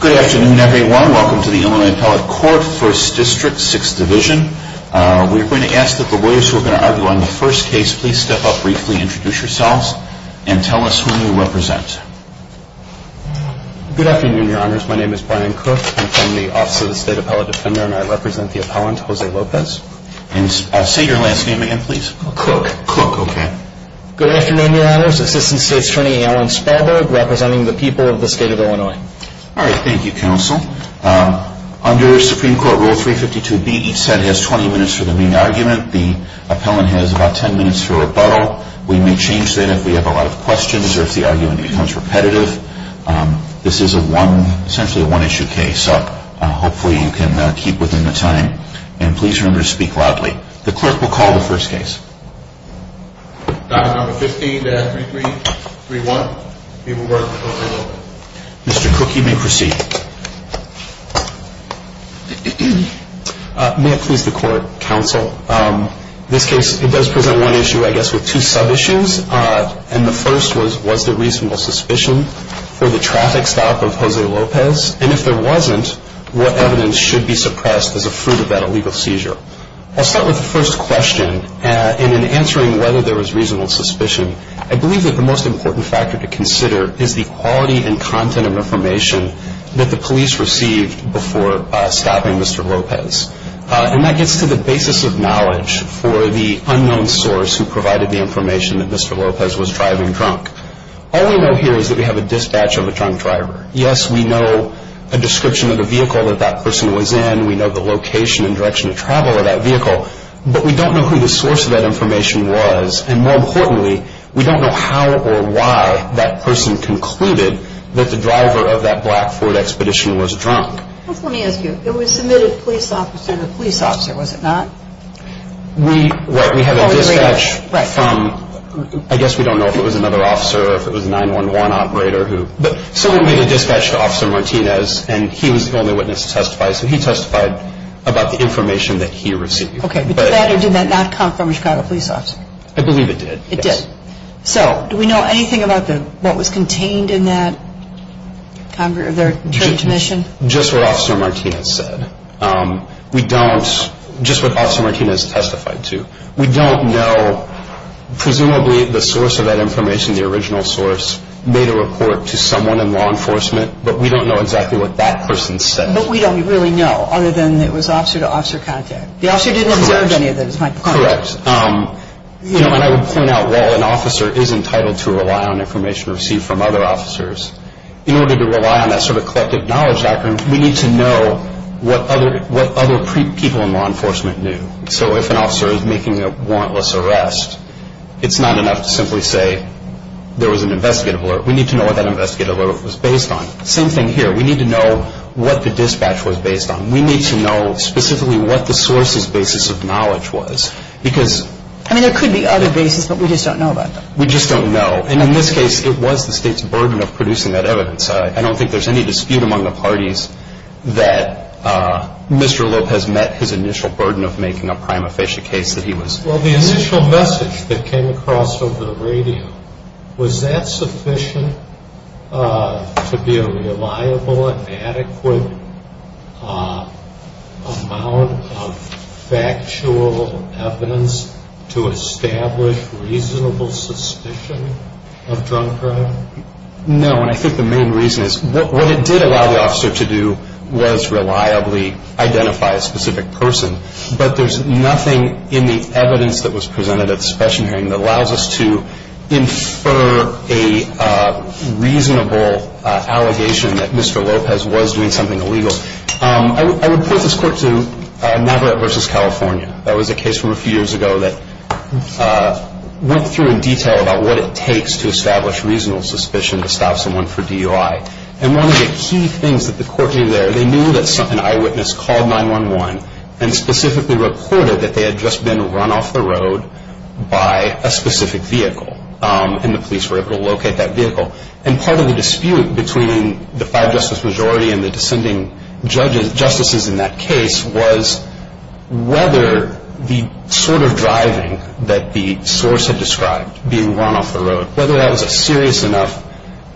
Good afternoon, everyone. Welcome to the Illinois Appellate Court, 1st District, 6th Division. We're going to ask that the lawyers who are going to argue on the first case please step up briefly, introduce yourselves, and tell us who you represent. Good afternoon, Your Honors. My name is Brian Cook. I'm from the Office of the State Appellate Defender, and I represent the appellant, Jose Lopez. Say your last name again, please. Cook. Cook, okay. Good afternoon, Your Honors. Assistant State's Attorney, Alan Spadaug, representing the people of the state of Illinois. All right. Thank you, Counsel. Under Supreme Court Rule 352B, each side has 20 minutes for the main argument. The appellant has about 10 minutes for rebuttal. We may change that if we have a lot of questions or if the argument becomes repetitive. This is essentially a one-issue case, so hopefully you can keep within the time. And please remember to speak loudly. The clerk will call the first case. Dining number 15, 3331. We will work with Jose Lopez. Mr. Cook, you may proceed. May it please the Court, Counsel, this case, it does present one issue, I guess, with two sub-issues. And the first was, was there reasonable suspicion for the traffic stop of Jose Lopez? And if there wasn't, what evidence should be suppressed as a fruit of that illegal seizure? I'll start with the first question. And in answering whether there was reasonable suspicion, I believe that the most important factor to consider is the quality and content of information that the police received before stopping Mr. Lopez. And that gets to the basis of knowledge for the unknown source who provided the information that Mr. Lopez was driving drunk. All we know here is that we have a dispatch of a drunk driver. Yes, we know a description of the vehicle that that person was in. We know the location and direction of travel of that vehicle. But we don't know who the source of that information was. And more importantly, we don't know how or why that person concluded that the driver of that black Ford Expedition was drunk. Let me ask you, it was submitted police officer to police officer, was it not? We have a dispatch from, I guess we don't know if it was another officer or if it was a 911 operator. But someone made a dispatch to Officer Martinez, and he was the only witness to testify. So he testified about the information that he received. Okay, but did that or did that not come from a Chicago police officer? I believe it did. It did? Yes. So do we know anything about what was contained in that transmission? Just what Officer Martinez said. We don't, just what Officer Martinez testified to. We don't know, presumably the source of that information, the original source, made a report to someone in law enforcement, but we don't know exactly what that person said. But we don't really know, other than it was officer-to-officer contact. The officer didn't observe any of this, is my point. Correct. And I would point out, while an officer is entitled to rely on information received from other officers, in order to rely on that sort of collective knowledge background, we need to know what other people in law enforcement knew. So if an officer is making a warrantless arrest, it's not enough to simply say there was an investigative alert. We need to know what that investigative alert was based on. Same thing here. We need to know what the dispatch was based on. We need to know specifically what the source's basis of knowledge was. I mean, there could be other bases, but we just don't know about them. We just don't know. And in this case, it was the State's burden of producing that evidence. I don't think there's any dispute among the parties that Mr. Lopez met his initial burden of making a prima facie case. Well, the initial message that came across over the radio, was that sufficient to be a reliable and adequate amount of factual evidence to establish reasonable suspicion of drug crime? No, and I think the main reason is what it did allow the officer to do was reliably identify a specific person, but there's nothing in the evidence that was presented at the special hearing that allows us to infer a reasonable allegation that Mr. Lopez was doing something illegal. I would point this court to Navarrete versus California. That was a case from a few years ago that went through in detail about what it takes to establish reasonable suspicion to stop someone for DUI. And one of the key things that the court knew there, they knew that an eyewitness called 911 and specifically reported that they had just been run off the road by a specific vehicle. And the police were able to locate that vehicle. And part of the dispute between the five justice majority and the descending justices in that case was whether the sort of driving that the source had described being run off the road, whether that was a serious enough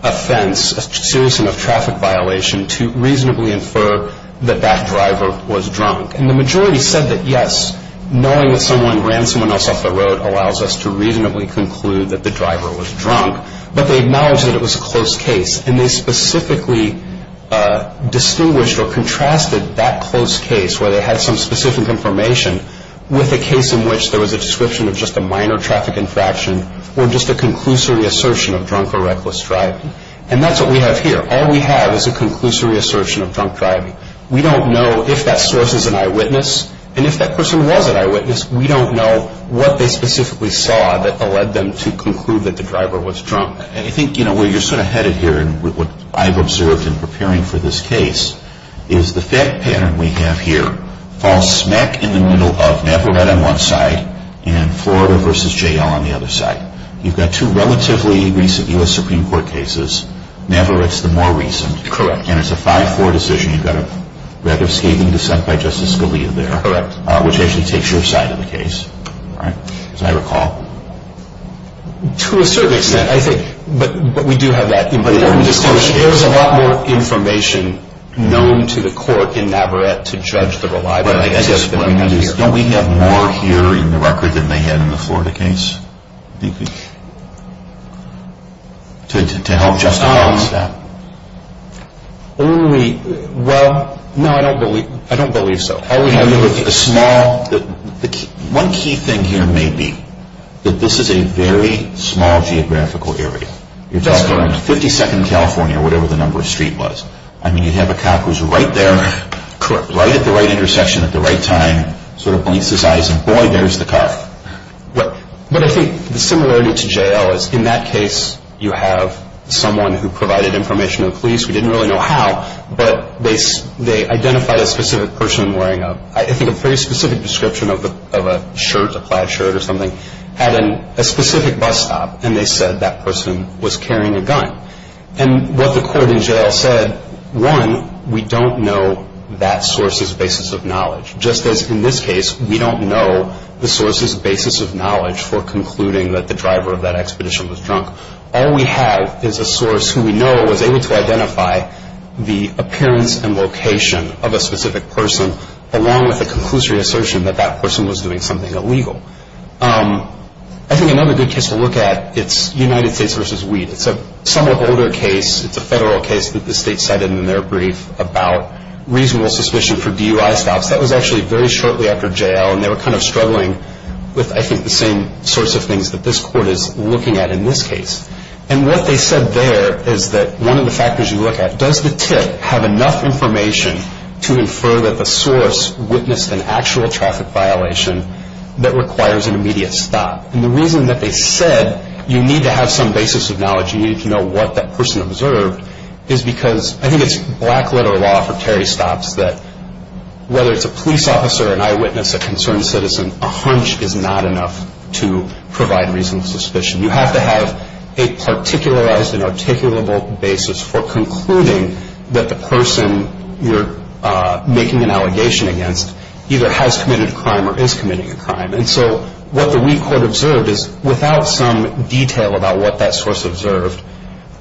offense, a serious enough traffic violation, to reasonably infer that that driver was drunk. And the majority said that, yes, knowing that someone ran someone else off the road allows us to reasonably conclude that the driver was drunk. But they acknowledged that it was a close case, and they specifically distinguished or contrasted that close case where they had some specific information with a case in which there was a description of just a minor traffic infraction or just a conclusory assertion of drunk or reckless driving. And that's what we have here. All we have is a conclusory assertion of drunk driving. We don't know if that source is an eyewitness. And if that person was an eyewitness, we don't know what they specifically saw that led them to conclude that the driver was drunk. And I think, you know, where you're sort of headed here and what I've observed in preparing for this case is the fact pattern we have here falls smack in the middle of Navarrete on one side and Florida v. J.L. on the other side. You've got two relatively recent U.S. Supreme Court cases. Navarrete's the more recent. Correct. And it's a 5-4 decision. You've got a rather scathing dissent by Justice Scalia there. Correct. Which actually takes your side of the case, right, as I recall. To a certain extent, I think. But we do have that information. There's a lot more information known to the court in Navarrete to judge the reliability. Don't we have more here in the record than they had in the Florida case? To help justify this stuff. Well, no, I don't believe so. One key thing here may be that this is a very small geographical area. You're talking about 52nd California or whatever the number of streets was. I mean, you'd have a cop who's right there, right at the right intersection at the right time, sort of blinks his eyes and, boy, there's the cop. But I think the similarity to J.L. is in that case you have someone who provided information to the police. We didn't really know how, but they identified a specific person wearing a, I think, a pretty specific description of a shirt, a plaid shirt or something, had a specific bus stop and they said that person was carrying a gun. And what the court in J.L. said, one, we don't know that source's basis of knowledge, just as in this case we don't know the source's basis of knowledge for concluding that the driver of that expedition was drunk. All we have is a source who we know was able to identify the appearance and location of a specific person along with a conclusory assertion that that person was doing something illegal. I think another good case to look at, it's United States versus Weed. It's a somewhat older case. It's a federal case that the state cited in their brief about reasonable suspicion for DUI stops. That was actually very shortly after J.L. and they were kind of struggling with, I think, the same sorts of things that this court is looking at in this case. And what they said there is that one of the factors you look at, does the tip have enough information to infer that the source witnessed an actual traffic violation that requires an immediate stop? And the reason that they said you need to have some basis of knowledge, you need to know what that person observed, is because I think it's black-letter law for Terry stops that whether it's a police officer, an eyewitness, a concerned citizen, a hunch is not enough to provide reasonable suspicion. You have to have a particularized and articulable basis for concluding that the person you're making an allegation against either has committed a crime or is committing a crime. And so what the weak court observed is without some detail about what that source observed,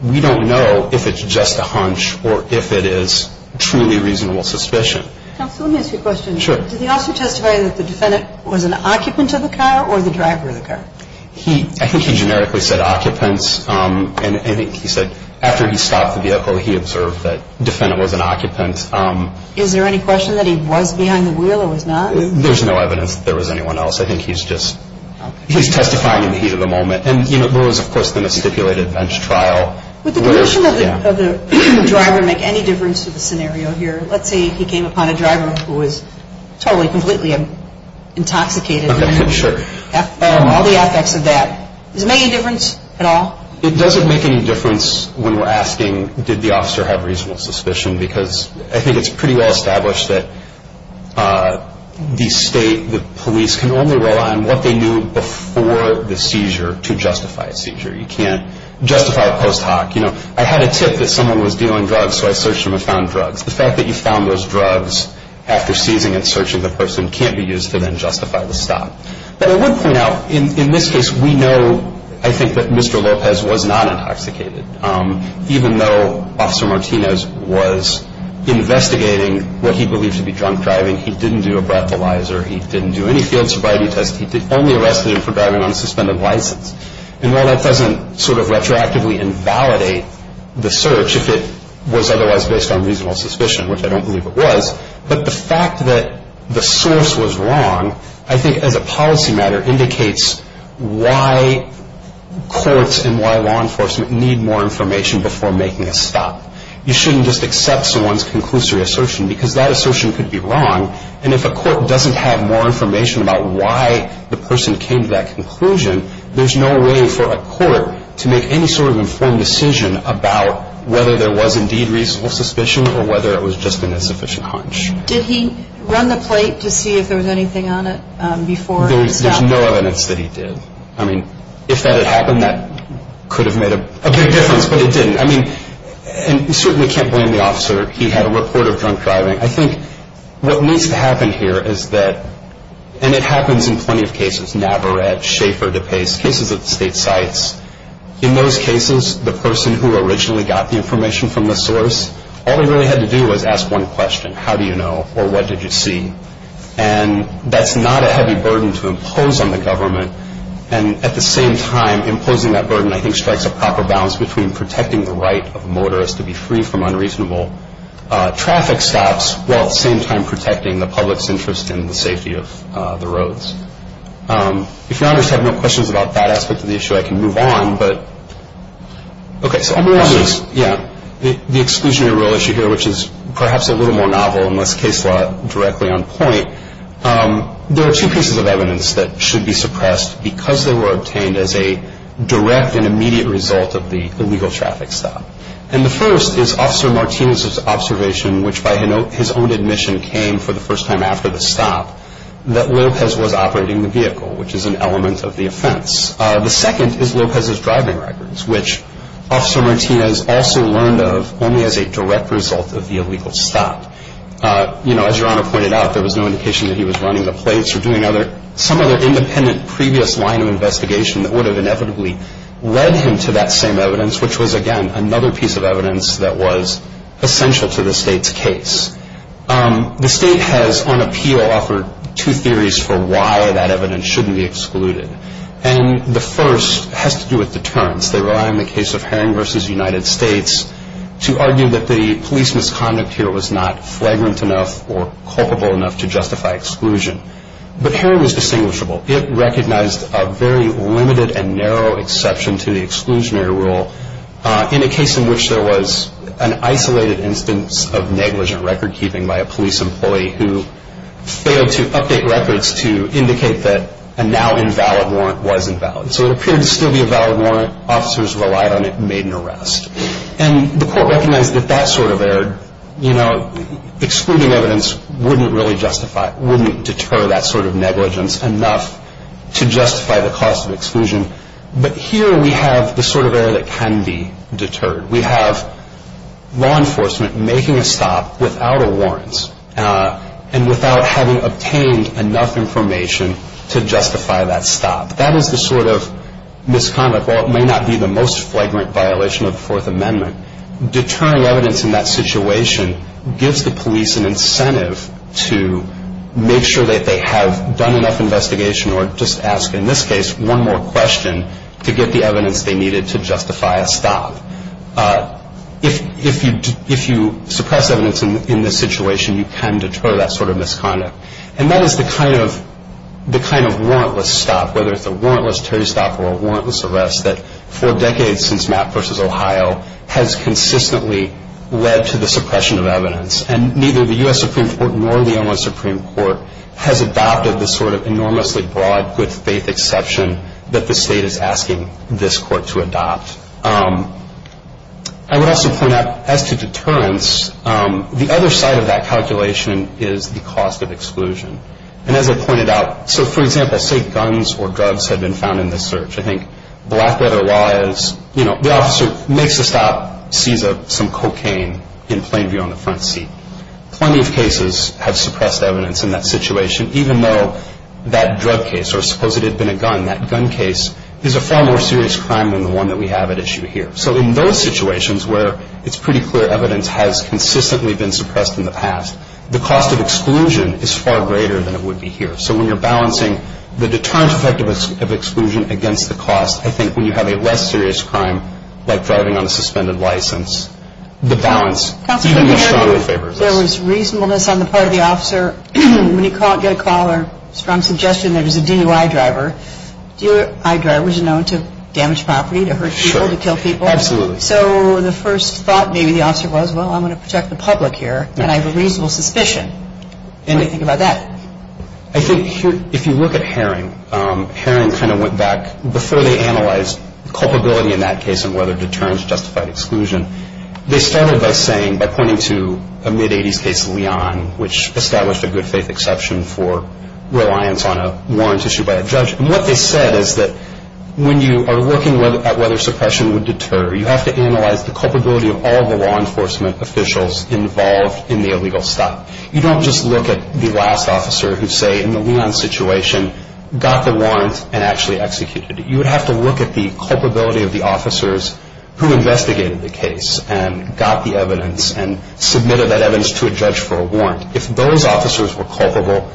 we don't know if it's just a hunch or if it is truly reasonable suspicion. Counsel, let me ask you a question. Sure. Did the officer testify that the defendant was an occupant of the car or the driver of the car? I think he generically said occupants. And I think he said after he stopped the vehicle, he observed that the defendant was an occupant. Is there any question that he was behind the wheel or was not? There's no evidence that there was anyone else. I think he's just testifying in the heat of the moment. And there was, of course, the misstipulated bench trial. Would the deletion of the driver make any difference to the scenario here? Let's say he came upon a driver who was totally, completely intoxicated. Okay, sure. All the effects of that, does it make any difference at all? It doesn't make any difference when we're asking did the officer have reasonable suspicion because I think it's pretty well established that the state, the police, can only rely on what they knew before the seizure to justify a seizure. You can't justify a post hoc. You know, I had a tip that someone was dealing drugs, so I searched him and found drugs. The fact that you found those drugs after seizing and searching the person can't be used to then justify the stop. But I would point out, in this case, we know, I think, that Mr. Lopez was not intoxicated, even though Officer Martinez was investigating what he believed to be drunk driving. He didn't do a breathalyzer. He didn't do any field sobriety tests. He only arrested him for driving on a suspended license. And while that doesn't sort of retroactively invalidate the search, if it was otherwise based on reasonable suspicion, which I don't believe it was, but the fact that the source was wrong, I think, as a policy matter, indicates why courts and why law enforcement need more information before making a stop. You shouldn't just accept someone's conclusory assertion because that assertion could be wrong. And if a court doesn't have more information about why the person came to that conclusion, there's no way for a court to make any sort of informed decision about whether there was indeed reasonable suspicion or whether it was just an insufficient hunch. Did he run the plate to see if there was anything on it before the stop? There's no evidence that he did. I mean, if that had happened, that could have made a big difference, but it didn't. I mean, you certainly can't blame the officer. He had a report of drunk driving. I think what needs to happen here is that, and it happens in plenty of cases, Navarrete, Schaefer, DePace, cases at the state sites. In those cases, the person who originally got the information from the source, all they really had to do was ask one question, how do you know or what did you see? And that's not a heavy burden to impose on the government. And at the same time, imposing that burden, I think, strikes a proper balance between protecting the right of motorists to be free from unreasonable traffic stops while at the same time protecting the public's interest in the safety of the roads. If you have no questions about that aspect of the issue, I can move on. Okay, so I'm going to end with the exclusionary rule issue here, which is perhaps a little more novel unless case law is directly on point. There are two pieces of evidence that should be suppressed because they were obtained as a direct and immediate result of the illegal traffic stop. And the first is Officer Martinez's observation, which by his own admission came for the first time after the stop, that Lopez was operating the vehicle, which is an element of the offense. The second is Lopez's driving records, which Officer Martinez also learned of only as a direct result of the illegal stop. As Your Honor pointed out, there was no indication that he was running the plates or doing some other independent previous line of investigation that would have inevitably led him to that same evidence, which was, again, another piece of evidence that was essential to the State's case. The State has, on appeal, offered two theories for why that evidence shouldn't be excluded. And the first has to do with deterrence. They rely on the case of Herring v. United States to argue that the police misconduct here was not flagrant enough or culpable enough to justify exclusion. But Herring was distinguishable. It recognized a very limited and narrow exception to the exclusionary rule in a case in which there was an isolated instance of negligent record keeping by a police employee who failed to update records to indicate that a now-invalid warrant was invalid. So it appeared to still be a valid warrant. Officers relied on it and made an arrest. And the court recognized that that sort of error, you know, excluding evidence wouldn't really justify, wouldn't deter that sort of negligence enough to justify the cost of exclusion. But here we have the sort of error that can be deterred. We have law enforcement making a stop without a warrants and without having obtained enough information to justify that stop. That is the sort of misconduct, while it may not be the most flagrant violation of the Fourth Amendment, deterring evidence in that situation gives the police an incentive to make sure that they have done enough investigation or just ask in this case one more question to get the evidence they needed to justify a stop. If you suppress evidence in this situation, you can deter that sort of misconduct. And that is the kind of warrantless stop, whether it's a warrantless stop or a warrantless arrest, that for decades since Mapp v. Ohio has consistently led to the suppression of evidence. And neither the U.S. Supreme Court nor the Illinois Supreme Court has adopted the sort of enormously broad good-faith exception that the state is asking this court to adopt. I would also point out as to deterrence, the other side of that calculation is the cost of exclusion. And as I pointed out, so for example, say guns or drugs have been found in this search. I think Blackwater law is, you know, the officer makes a stop, sees some cocaine in plain view on the front seat. Plenty of cases have suppressed evidence in that situation, even though that drug case or suppose it had been a gun, that gun case is a far more serious crime than the one that we have at issue here. So in those situations where it's pretty clear evidence has consistently been suppressed in the past, the cost of exclusion is far greater than it would be here. So when you're balancing the deterrence effect of exclusion against the cost, I think when you have a less serious crime like driving on a suspended license, the balance even more strongly favors this. There was reasonableness on the part of the officer. When you get a call or strong suggestion there's a DUI driver, DUI drivers are known to damage property, to hurt people, to kill people. Sure, absolutely. So the first thought maybe the officer was, well, I'm going to protect the public here, and I have a reasonable suspicion. What do you think about that? I think if you look at Herring, Herring kind of went back before they analyzed culpability in that case and whether deterrence justified exclusion. They started by saying, by pointing to a mid-80s case, Leon, which established a good faith exception for reliance on a warrant issued by a judge. And what they said is that when you are looking at whether suppression would deter, you have to analyze the culpability of all the law enforcement officials involved in the illegal stop. You don't just look at the last officer who, say, in the Leon situation, got the warrant and actually executed it. You would have to look at the culpability of the officers who investigated the case and got the evidence and submitted that evidence to a judge for a warrant. If those officers were culpable,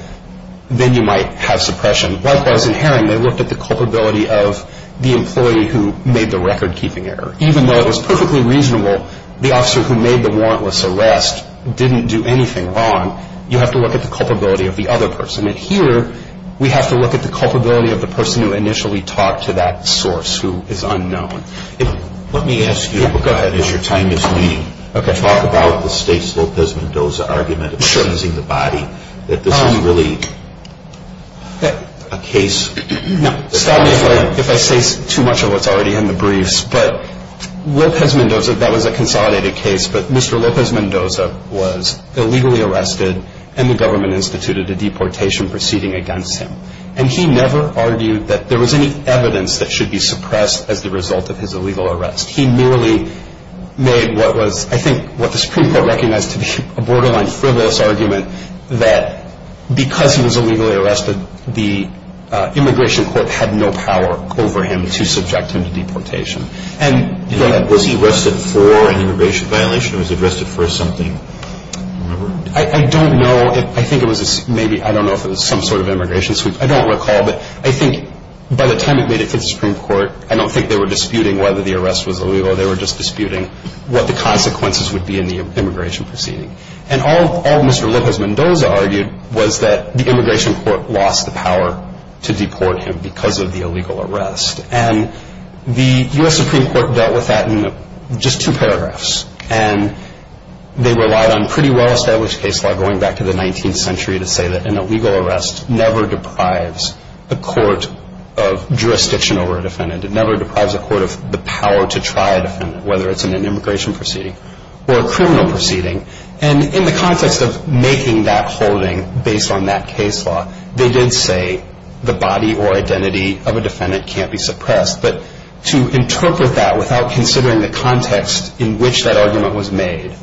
then you might have suppression. Likewise, in Herring, they looked at the culpability of the employee who made the record-keeping error. Even though it was perfectly reasonable the officer who made the warrantless arrest didn't do anything wrong, you have to look at the culpability of the other person. And here we have to look at the culpability of the person who initially talked to that source who is unknown. Let me ask you, go ahead, as your time is leading, to talk about the State's Lopez Mendoza argument of suppressing the body, that this is really a case. Stop me if I say too much of what's already in the briefs. But Lopez Mendoza, that was a consolidated case, but Mr. Lopez Mendoza was illegally arrested and the government instituted a deportation proceeding against him. And he never argued that there was any evidence that should be suppressed as the result of his illegal arrest. He merely made what was, I think, what the Supreme Court recognized to be a borderline frivolous argument that because he was illegally arrested, the immigration court had no power over him to subject him to deportation. Was he arrested for an immigration violation or was he arrested for something? I don't know. I think it was maybe, I don't know if it was some sort of immigration sweep. I don't recall, but I think by the time it made it to the Supreme Court, I don't think they were disputing whether the arrest was illegal. They were just disputing what the consequences would be in the immigration proceeding. And all Mr. Lopez Mendoza argued was that the immigration court lost the power to deport him because of the illegal arrest. And the U.S. Supreme Court dealt with that in just two paragraphs. And they relied on pretty well-established case law going back to the 19th century to say that an illegal arrest never deprives a court of jurisdiction over a defendant. It never deprives a court of the power to try a defendant, whether it's in an immigration proceeding or a criminal proceeding. And in the context of making that holding based on that case law, they did say the body or identity of a defendant can't be suppressed. But to interpret that without considering the context in which that argument was made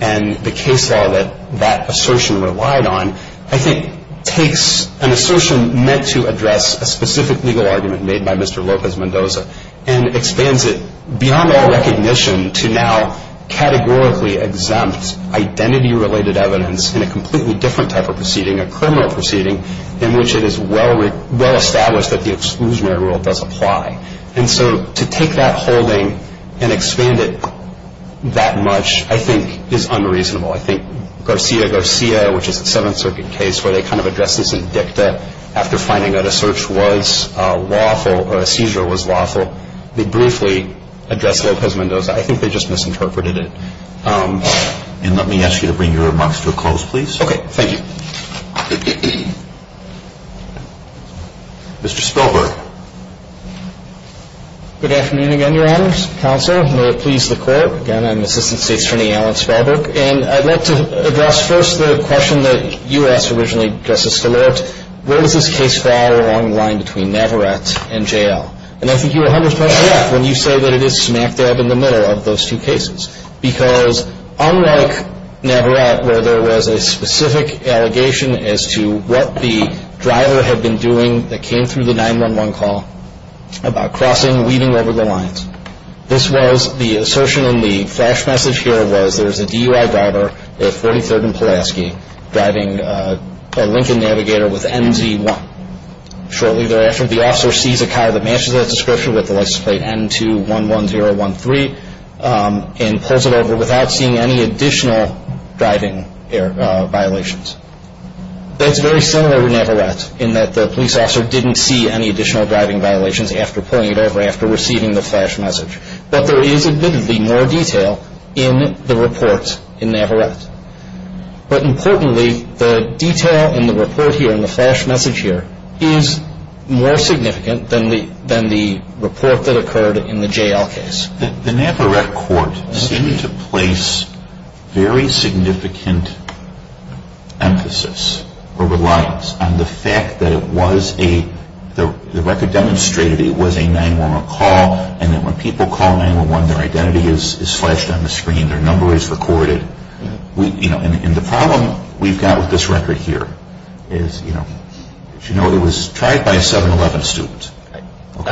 and the case law that that assertion relied on, I think, takes an assertion meant to address a specific legal argument made by Mr. Lopez Mendoza and expands it beyond all recognition to now categorically exempt identity-related evidence in a completely different type of proceeding, a criminal proceeding, in which it is well-established that the exclusionary rule does apply. And so to take that holding and expand it that much, I think, is unreasonable. I think Garcia Garcia, which is a Seventh Circuit case, where they kind of addressed this in dicta after finding that a search was lawful or a seizure was lawful, they briefly addressed Lopez Mendoza. I think they just misinterpreted it. And let me ask you to bring your remarks to a close, please. Okay. Thank you. Mr. Spellberg. Good afternoon again, Your Honors. Counsel, may it please the Court. Again, I'm Assistant State's Attorney Alan Spellberg. And I'd like to address first the question that you asked originally, Justice Stilett, where does this case fall along the line between Navarrete and J.L.? And I think you were 100% correct when you say that it is smack dab in the middle of those two cases because unlike Navarrete where there was a specific allegation as to what the driver had been doing that came through the 911 call about crossing, weaving over the lines, this was the assertion in the flash message here was there's a DUI driver at 43rd and Pulaski driving a Lincoln Navigator with NZ1. Shortly thereafter, the officer sees a car that matches that description with the license plate N211013 and pulls it over without seeing any additional driving violations. That's very similar to Navarrete in that the police officer didn't see any additional driving violations after pulling it over after receiving the flash message. But there is admittedly more detail in the report in Navarrete. But importantly, the detail in the report here and the flash message here is more significant than the report that occurred in the J.L. case. The Navarrete court seemed to place very significant emphasis or reliance on the fact that it was a, the record demonstrated it was a 911 call and that when people call 911 their identity is flashed on the screen, their number is recorded. And the problem we've got with this record here is, as you know, it was tried by a 7-11 student. The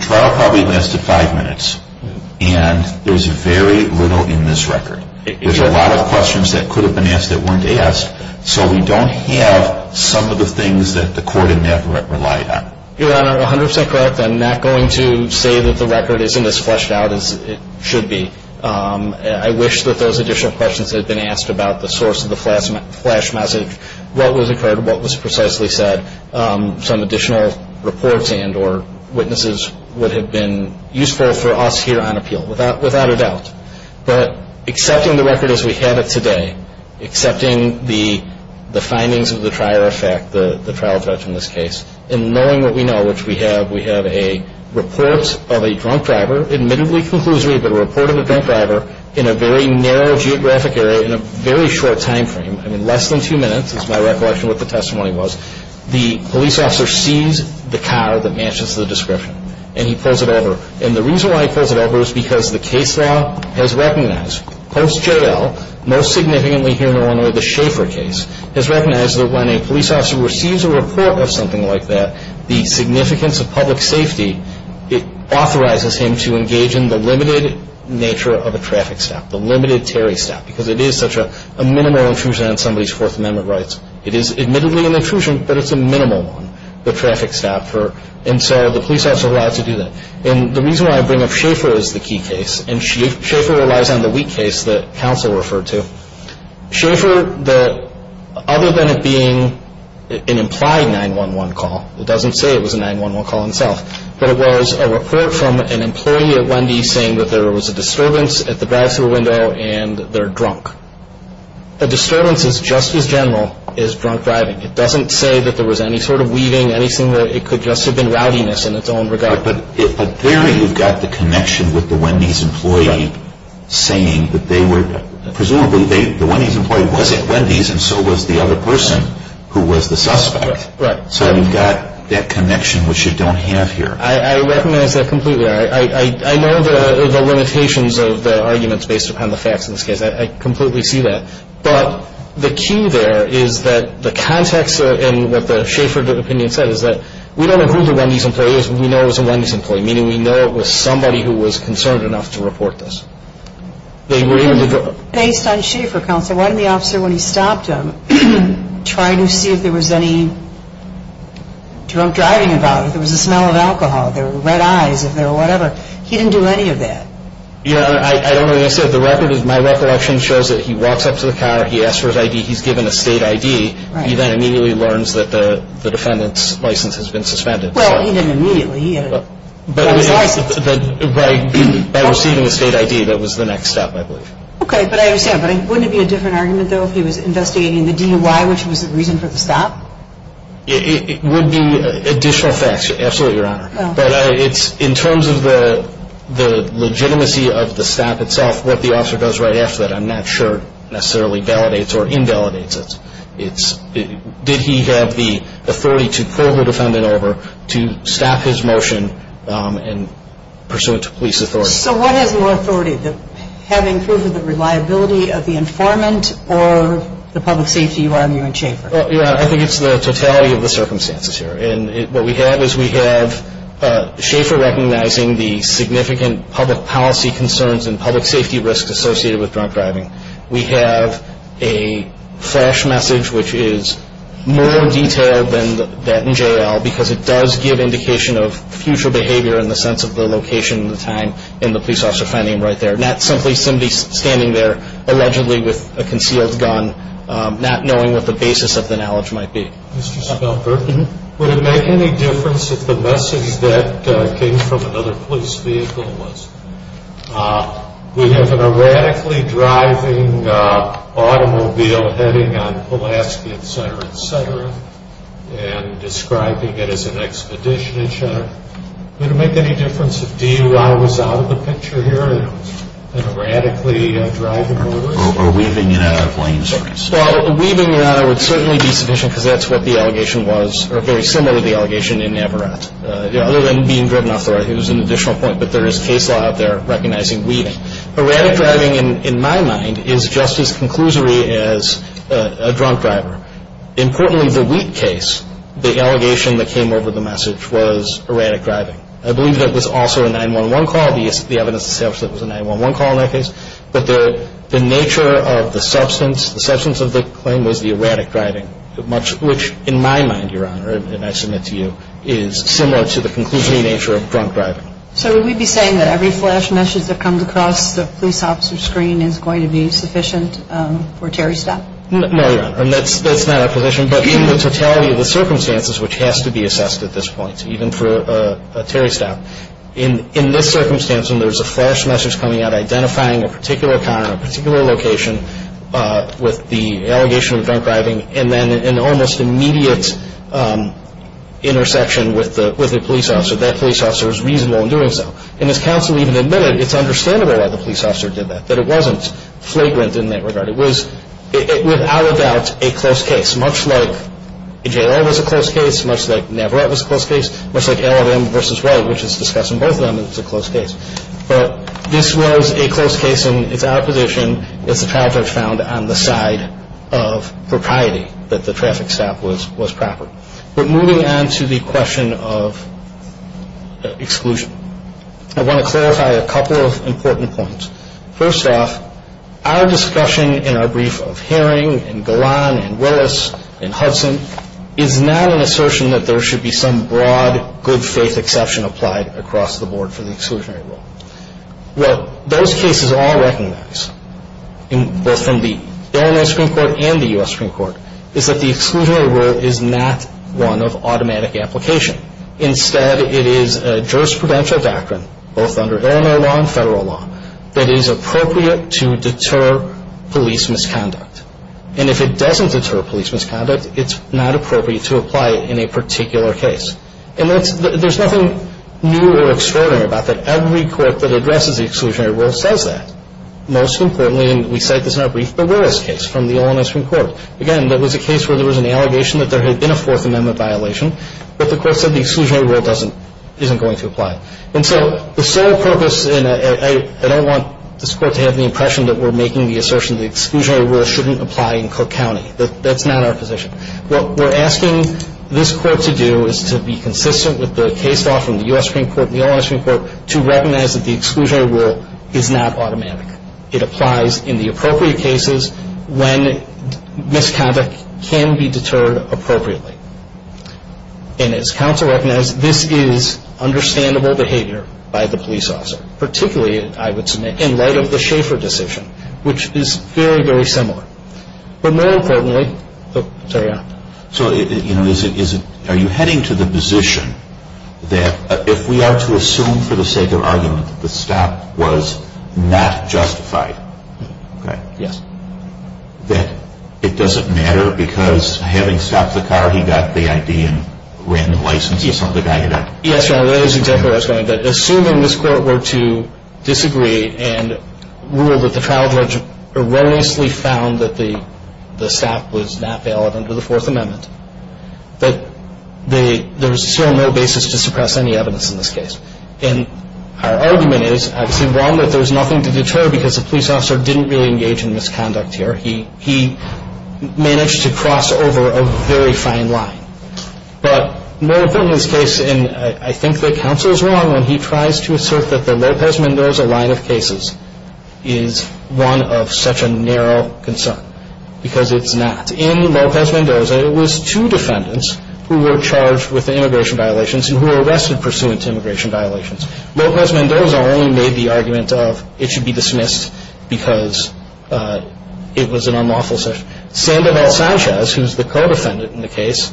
trial probably lasted 5 minutes and there's very little in this record. There's a lot of questions that could have been asked that weren't asked. So we don't have some of the things that the court in Navarrete relied on. Your Honor, 100% correct. I'm not going to say that the record isn't as fleshed out as it should be. I wish that those additional questions had been asked about the source of the flash message, what was occurred, what was precisely said. Some additional reports and or witnesses would have been useful for us here on appeal, without a doubt. But accepting the record as we have it today, accepting the findings of the trial judge in this case, and knowing what we know, which we have, we have a report of a drunk driver, admittedly conclusory, but a report of a drunk driver in a very narrow geographic area in a very short time frame, I mean less than 2 minutes is my recollection of what the testimony was. The police officer sees the car that matches the description and he pulls it over. And the reason why he pulls it over is because the case law has recognized, post-J.L., most significantly here in Illinois, the Schaefer case, has recognized that when a police officer receives a report of something like that, the significance of public safety, it authorizes him to engage in the limited nature of a traffic stop, the limited Terry stop, because it is such a minimal intrusion on somebody's Fourth Amendment rights. It is admittedly an intrusion, but it's a minimal one, the traffic stop. And so the police officer is allowed to do that. And the reason why I bring up Schaefer is the key case, and Schaefer relies on the weak case that counsel referred to. Schaefer, other than it being an implied 911 call, it doesn't say it was a 911 call in itself, but it was a report from an employee at Wendy's saying that there was a disturbance at the drive-thru window and they're drunk. A disturbance is just as general as drunk driving. It doesn't say that there was any sort of weaving, anything where it could just have been rowdiness in its own regard. But there you've got the connection with the Wendy's employee saying that they were, presumably the Wendy's employee was at Wendy's and so was the other person who was the suspect. Right. So you've got that connection which you don't have here. I recognize that completely. I know the limitations of the arguments based upon the facts in this case. I completely see that. But the key there is that the context and what the Schaefer opinion said is that we don't know who the Wendy's employee is. We know it was a Wendy's employee, meaning we know it was somebody who was concerned enough to report this. Based on Schaefer, counsel, why didn't the officer, when he stopped him, try to see if there was any drunk driving involved, if there was the smell of alcohol, if there were red eyes, if there were whatever? He didn't do any of that. I don't know what you're saying. The record is my recollection shows that he walks up to the car, he asks for his ID, he's given a state ID. He then immediately learns that the defendant's license has been suspended. Well, he didn't immediately. He got his license. By receiving a state ID, that was the next step, I believe. Okay, but I understand. But wouldn't it be a different argument, though, if he was investigating the DUI, which was the reason for the stop? It would be additional facts, absolutely, Your Honor. But it's in terms of the legitimacy of the stop itself, what the officer does right after that, I'm not sure necessarily validates or invalidates it. Did he have the authority to pull the defendant over to stop his motion and pursue it to police authority? So what is more authority, having proof of the reliability of the informant or the public safety you are arguing Schaefer? Well, Your Honor, I think it's the totality of the circumstances here. And what we have is we have Schaefer recognizing the significant public policy concerns and public safety risks associated with drunk driving. We have a flash message, which is more detailed than that in J.L. because it does give indication of future behavior in the sense of the location, the time, and the police officer finding him right there, not simply somebody standing there allegedly with a concealed gun, not knowing what the basis of the knowledge might be. Mr. Schaefer, would it make any difference if the message that came from another police vehicle was, we have an erratically driving automobile heading on Pulaski, et cetera, et cetera, and describing it as an expedition, et cetera. Would it make any difference if DUI was out of the picture here, an erratically driving motorist? Or weaving it out of lane circuits? Well, weaving it out would certainly be sufficient because that's what the allegation was, or very similar to the allegation in Navarrete, other than being driven off the right. It was an additional point, but there is case law out there recognizing weaving. Erratic driving, in my mind, is just as conclusory as a drunk driver. Importantly, the Wheat case, the allegation that came over the message was erratic driving. I believe that was also a 911 call. The evidence establishes it was a 911 call in that case. But the nature of the substance, the substance of the claim was the erratic driving, which in my mind, Your Honor, and I submit to you, is similar to the conclusory nature of drunk driving. So would we be saying that every flash message that comes across the police officer's screen is going to be sufficient for Terry Stout? No, Your Honor, and that's not our position. But in the totality of the circumstances, which has to be assessed at this point, even for Terry Stout, in this circumstance when there's a flash message coming out identifying a particular car in a particular location with the allegation of drunk driving, and then an almost immediate intersection with the police officer, that police officer was reasonable in doing so. And as counsel even admitted, it's understandable why the police officer did that, that it wasn't flagrant in that regard. It was, without a doubt, a close case, much like JL was a close case, much like Navarrete was a close case, much like LLM v. Wade, which is discussed in both of them as a close case. But this was a close case, and it's our position, as a trial judge, found on the side of propriety that the traffic stop was proper. But moving on to the question of exclusion, I want to clarify a couple of important points. First off, our discussion in our brief of Herring and Golan and Willis and Hudson is not an assertion that there should be some broad good faith exception applied across the board for the exclusionary rule. What those cases all recognize, both from the Illinois Supreme Court and the U.S. Supreme Court, is that the exclusionary rule is not one of automatic application. Instead, it is a jurisprudential doctrine, both under Illinois law and federal law, that it is appropriate to deter police misconduct. And if it doesn't deter police misconduct, it's not appropriate to apply it in a particular case. And there's nothing new or extraordinary about that. Every court that addresses the exclusionary rule says that. Most importantly, and we cite this in our brief, the Willis case from the Illinois Supreme Court. Again, that was a case where there was an allegation that there had been a Fourth Amendment violation, but the court said the exclusionary rule isn't going to apply. And so the sole purpose, and I don't want this court to have the impression that we're making the assertion the exclusionary rule shouldn't apply in Cook County. That's not our position. What we're asking this court to do is to be consistent with the case law from the U.S. Supreme Court and the Illinois Supreme Court to recognize that the exclusionary rule is not automatic. It applies in the appropriate cases when misconduct can be deterred appropriately. And as counsel recognized, this is understandable behavior by the police officer, particularly, I would submit, in light of the Schaeffer decision, which is very, very similar. But more importantly, sorry. So, you know, are you heading to the position that if we are to assume for the sake of argument that the stop was not justified, that it doesn't matter because having stopped the car, he got the I.D. and ran the license. Yes, Your Honor, that is exactly what I was going to say. Assuming this court were to disagree and rule that the trial judge erroneously found that the stop was not valid under the Fourth Amendment, that there's still no basis to suppress any evidence in this case. And our argument is, obviously, one, that there's nothing to deter because the police officer didn't really engage in misconduct here. He managed to cross over a very fine line. But more importantly in this case, and I think that counsel is wrong when he tries to assert that the Lopez-Mendoza line of cases is one of such a narrow concern because it's not. In Lopez-Mendoza, it was two defendants who were charged with immigration violations and who were arrested pursuant to immigration violations. Lopez-Mendoza only made the argument of it should be dismissed because it was an unlawful session. Sandoval-Sanchez, who is the co-defendant in the case,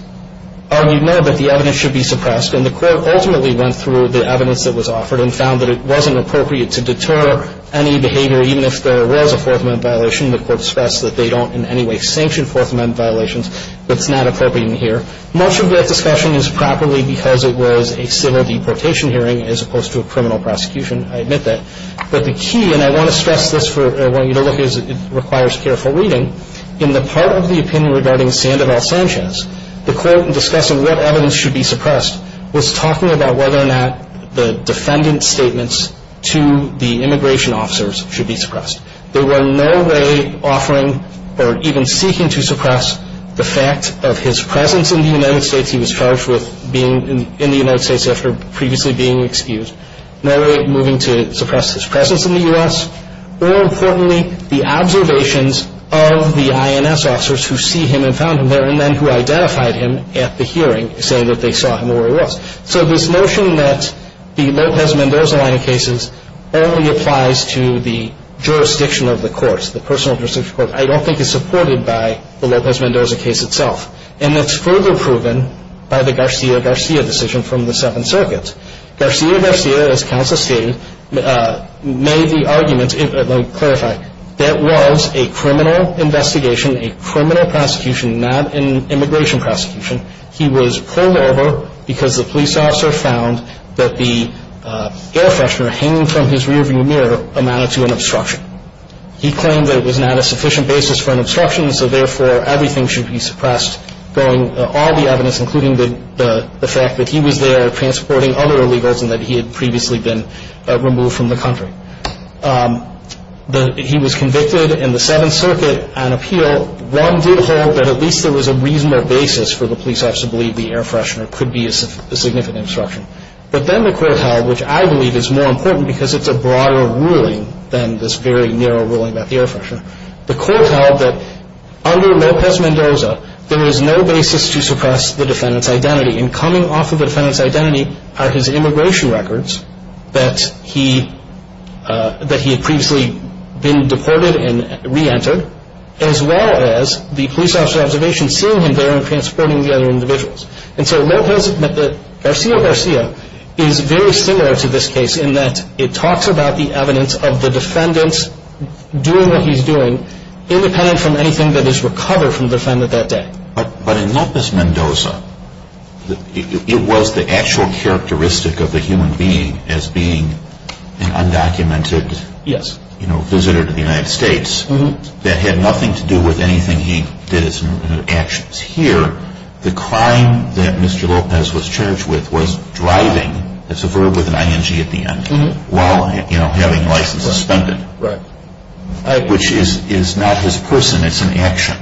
argued no, but the evidence should be suppressed. And the court ultimately went through the evidence that was offered and found that it wasn't appropriate to deter any behavior, even if there was a Fourth Amendment violation. The court stressed that they don't in any way sanction Fourth Amendment violations. It's not appropriate in here. Much of that discussion is properly because it was a civil deportation hearing as opposed to a criminal prosecution. I admit that. But the key, and I want to stress this, I want you to look at it, requires careful reading. In the part of the opinion regarding Sandoval-Sanchez, the court in discussing what evidence should be suppressed was talking about whether or not the defendant's statements to the immigration officers should be suppressed. They were in no way offering or even seeking to suppress the fact of his presence in the United States. He was charged with being in the United States after previously being excused. No way moving to suppress his presence in the U.S. or, importantly, the observations of the INS officers who see him and found him there and then who identified him at the hearing saying that they saw him where he was. So this notion that the Lopez-Mendoza line of cases only applies to the jurisdiction of the courts, the personal jurisdiction of the courts, I don't think is supported by the Lopez-Mendoza case itself. And that's further proven by the Garcia-Garcia decision from the Seventh Circuit. Garcia-Garcia, as counsel stated, made the argument, let me clarify, that was a criminal investigation, a criminal prosecution, not an immigration prosecution. He was pulled over because the police officer found that the air freshener hanging from his rearview mirror amounted to an obstruction. He claimed that it was not a sufficient basis for an obstruction, so therefore everything should be suppressed, throwing all the evidence, including the fact that he was there transporting other illegals and that he had previously been removed from the country. He was convicted in the Seventh Circuit on appeal. One did hold that at least there was a reasonable basis for the police officer to believe the air freshener could be a significant obstruction. But then the court held, which I believe is more important because it's a broader ruling than this very narrow ruling about the air freshener, the court held that under Lopez Mendoza there is no basis to suppress the defendant's identity and coming off of the defendant's identity are his immigration records that he had previously been deported and reentered, as well as the police officer's observation seeing him there and transporting the other individuals. And so Garcia-Garcia is very similar to this case in that it talks about the evidence of the defendant doing what he's doing, independent from anything that is recovered from the defendant that day. But in Lopez Mendoza, it was the actual characteristic of the human being as being an undocumented visitor to the United States that had nothing to do with anything he did as an action. Here, the crime that Mr. Lopez was charged with was driving, it's a verb with an ing at the end, while having license suspended, which is not his person, it's an action.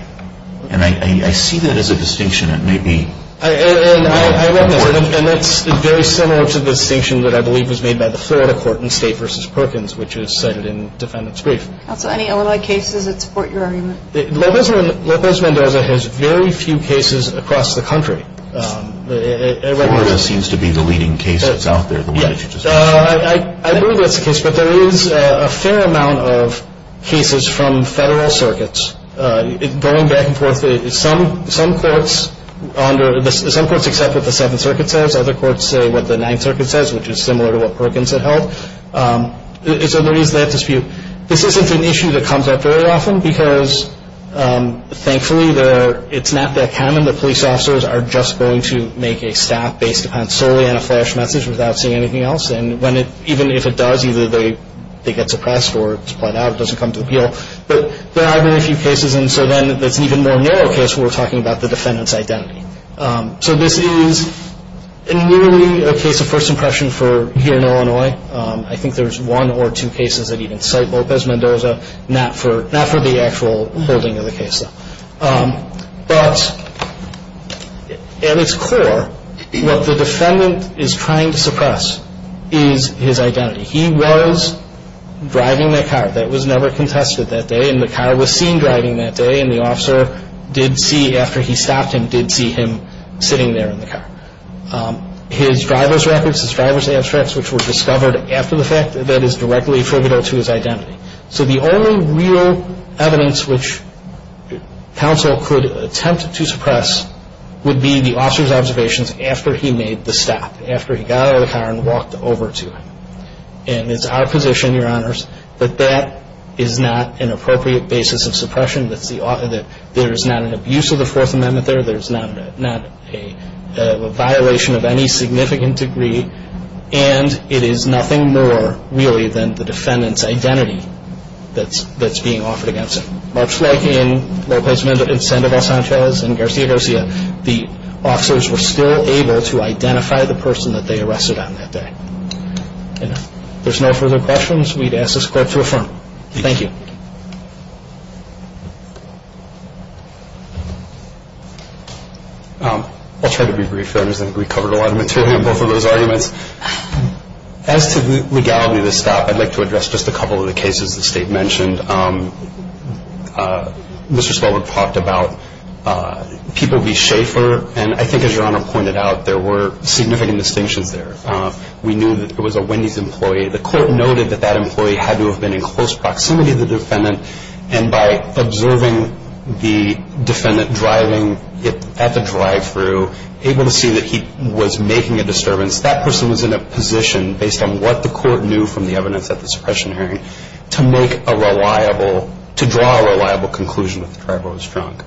And I see that as a distinction that may be important. And that's very similar to the distinction that I believe was made by the Florida court in State v. Perkins, which is cited in the defendant's brief. Counsel, any other cases that support your argument? Lopez Mendoza has very few cases across the country. Florida seems to be the leading case that's out there. I believe that's the case, but there is a fair amount of cases from federal circuits. Going back and forth, some courts accept what the Seventh Circuit says, other courts say what the Ninth Circuit says, which is similar to what Perkins had held. So there is that dispute. This isn't an issue that comes up very often because, thankfully, it's not that common. The police officers are just going to make a staff-based defense solely on a flash message without seeing anything else. And even if it does, either they get suppressed or it's bled out, it doesn't come to the appeal. But there are very few cases. And so then it's an even more narrow case where we're talking about the defendant's identity. So this is nearly a case of first impression for here in Illinois. I think there's one or two cases that even cite Lopez Mendoza, not for the actual holding of the case, though. But at its core, what the defendant is trying to suppress is his identity. He was driving that car. That was never contested that day, and the car was seen driving that day, and the officer did see, after he stopped him, did see him sitting there in the car. His driver's records, his driver's abstracts, which were discovered after the fact, that is directly affidavit to his identity. So the only real evidence which counsel could attempt to suppress would be the officer's observations after he made the stop, after he got out of the car and walked over to him. And it's our position, Your Honors, that that is not an appropriate basis of suppression, that there is not an abuse of the Fourth Amendment there, there's not a violation of any significant degree, and it is nothing more, really, than the defendant's identity that's being offered against him. Much like in Lopez Mendoza and Sandoval Sanchez and Garcia Garcia, the officers were still able to identify the person that they arrested on that day. If there's no further questions, we'd ask this Court to affirm. Thank you. I'll try to be brief, Your Honors. I think we covered a lot of material in both of those arguments. As to the legality of the stop, I'd like to address just a couple of the cases the State mentioned. Mr. Spelberg talked about People v. Schaefer, and I think, as Your Honor pointed out, there were significant distinctions there. We knew that there was a Wendy's employee. The Court noted that that employee had to have been in close proximity to the defendant, and by observing the defendant driving at the drive-thru, able to see that he was making a disturbance, that person was in a position, based on what the Court knew from the evidence at the suppression hearing, to make a reliable, to draw a reliable conclusion that the driver was drunk.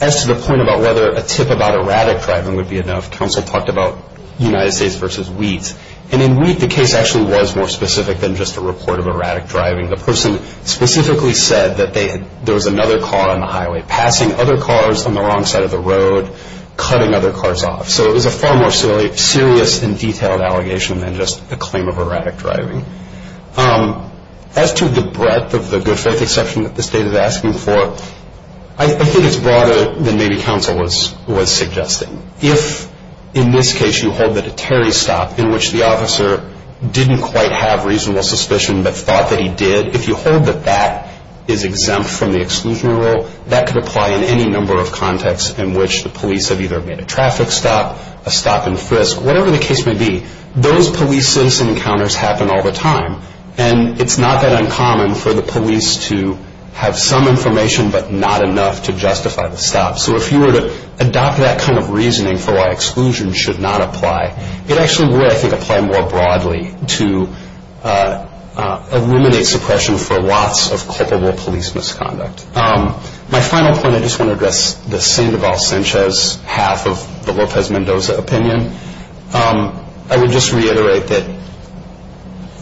As to the point about whether a tip about erratic driving would be enough, counsel talked about United States v. Wheat. And in Wheat, the case actually was more specific than just a report of erratic driving. The person specifically said that there was another car on the highway, passing other cars on the wrong side of the road, cutting other cars off. So it was a far more serious and detailed allegation than just a claim of erratic driving. As to the breadth of the good faith exception that the State is asking for, I think it's broader than maybe counsel was suggesting. If, in this case, you hold that a Terry stop, in which the officer didn't quite have reasonable suspicion but thought that he did, if you hold that that is exempt from the exclusionary rule, that could apply in any number of contexts in which the police have either made a traffic stop, a stop and frisk, whatever the case may be. Those police-citizen encounters happen all the time. And it's not that uncommon for the police to have some information but not enough to justify the stop. So if you were to adopt that kind of reasoning for why exclusion should not apply, it actually would, I think, apply more broadly to eliminate suppression for lots of culpable police misconduct. My final point, I just want to address the Sandoval-Sanchez half of the Lopez Mendoza opinion. I would just reiterate that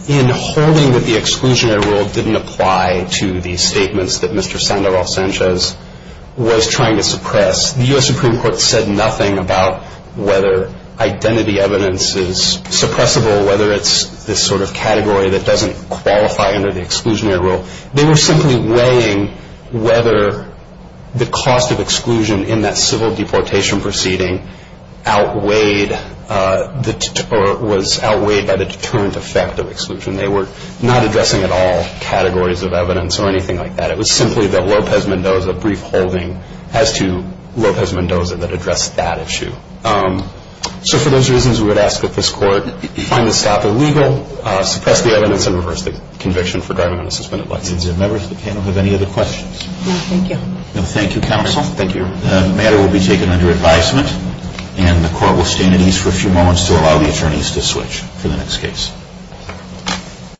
in holding that the exclusionary rule didn't apply to the statements that Mr. Sandoval-Sanchez was trying to suppress, the U.S. Supreme Court said nothing about whether identity evidence is suppressible, whether it's this sort of category that doesn't qualify under the exclusionary rule. They were simply weighing whether the cost of exclusion in that civil deportation proceeding was outweighed by the deterrent effect of exclusion. They were not addressing at all categories of evidence or anything like that. It was simply the Lopez Mendoza brief holding as to Lopez Mendoza that addressed that issue. So for those reasons, we would ask that this Court find the stop illegal, suppress the evidence, and reverse the conviction for driving on a suspended license. Members of the panel have any other questions? No, thank you. No, thank you, counsel. Thank you. The matter will be taken under advisement, and the Court will stand at ease for a few moments to allow the attorneys to switch for the next case.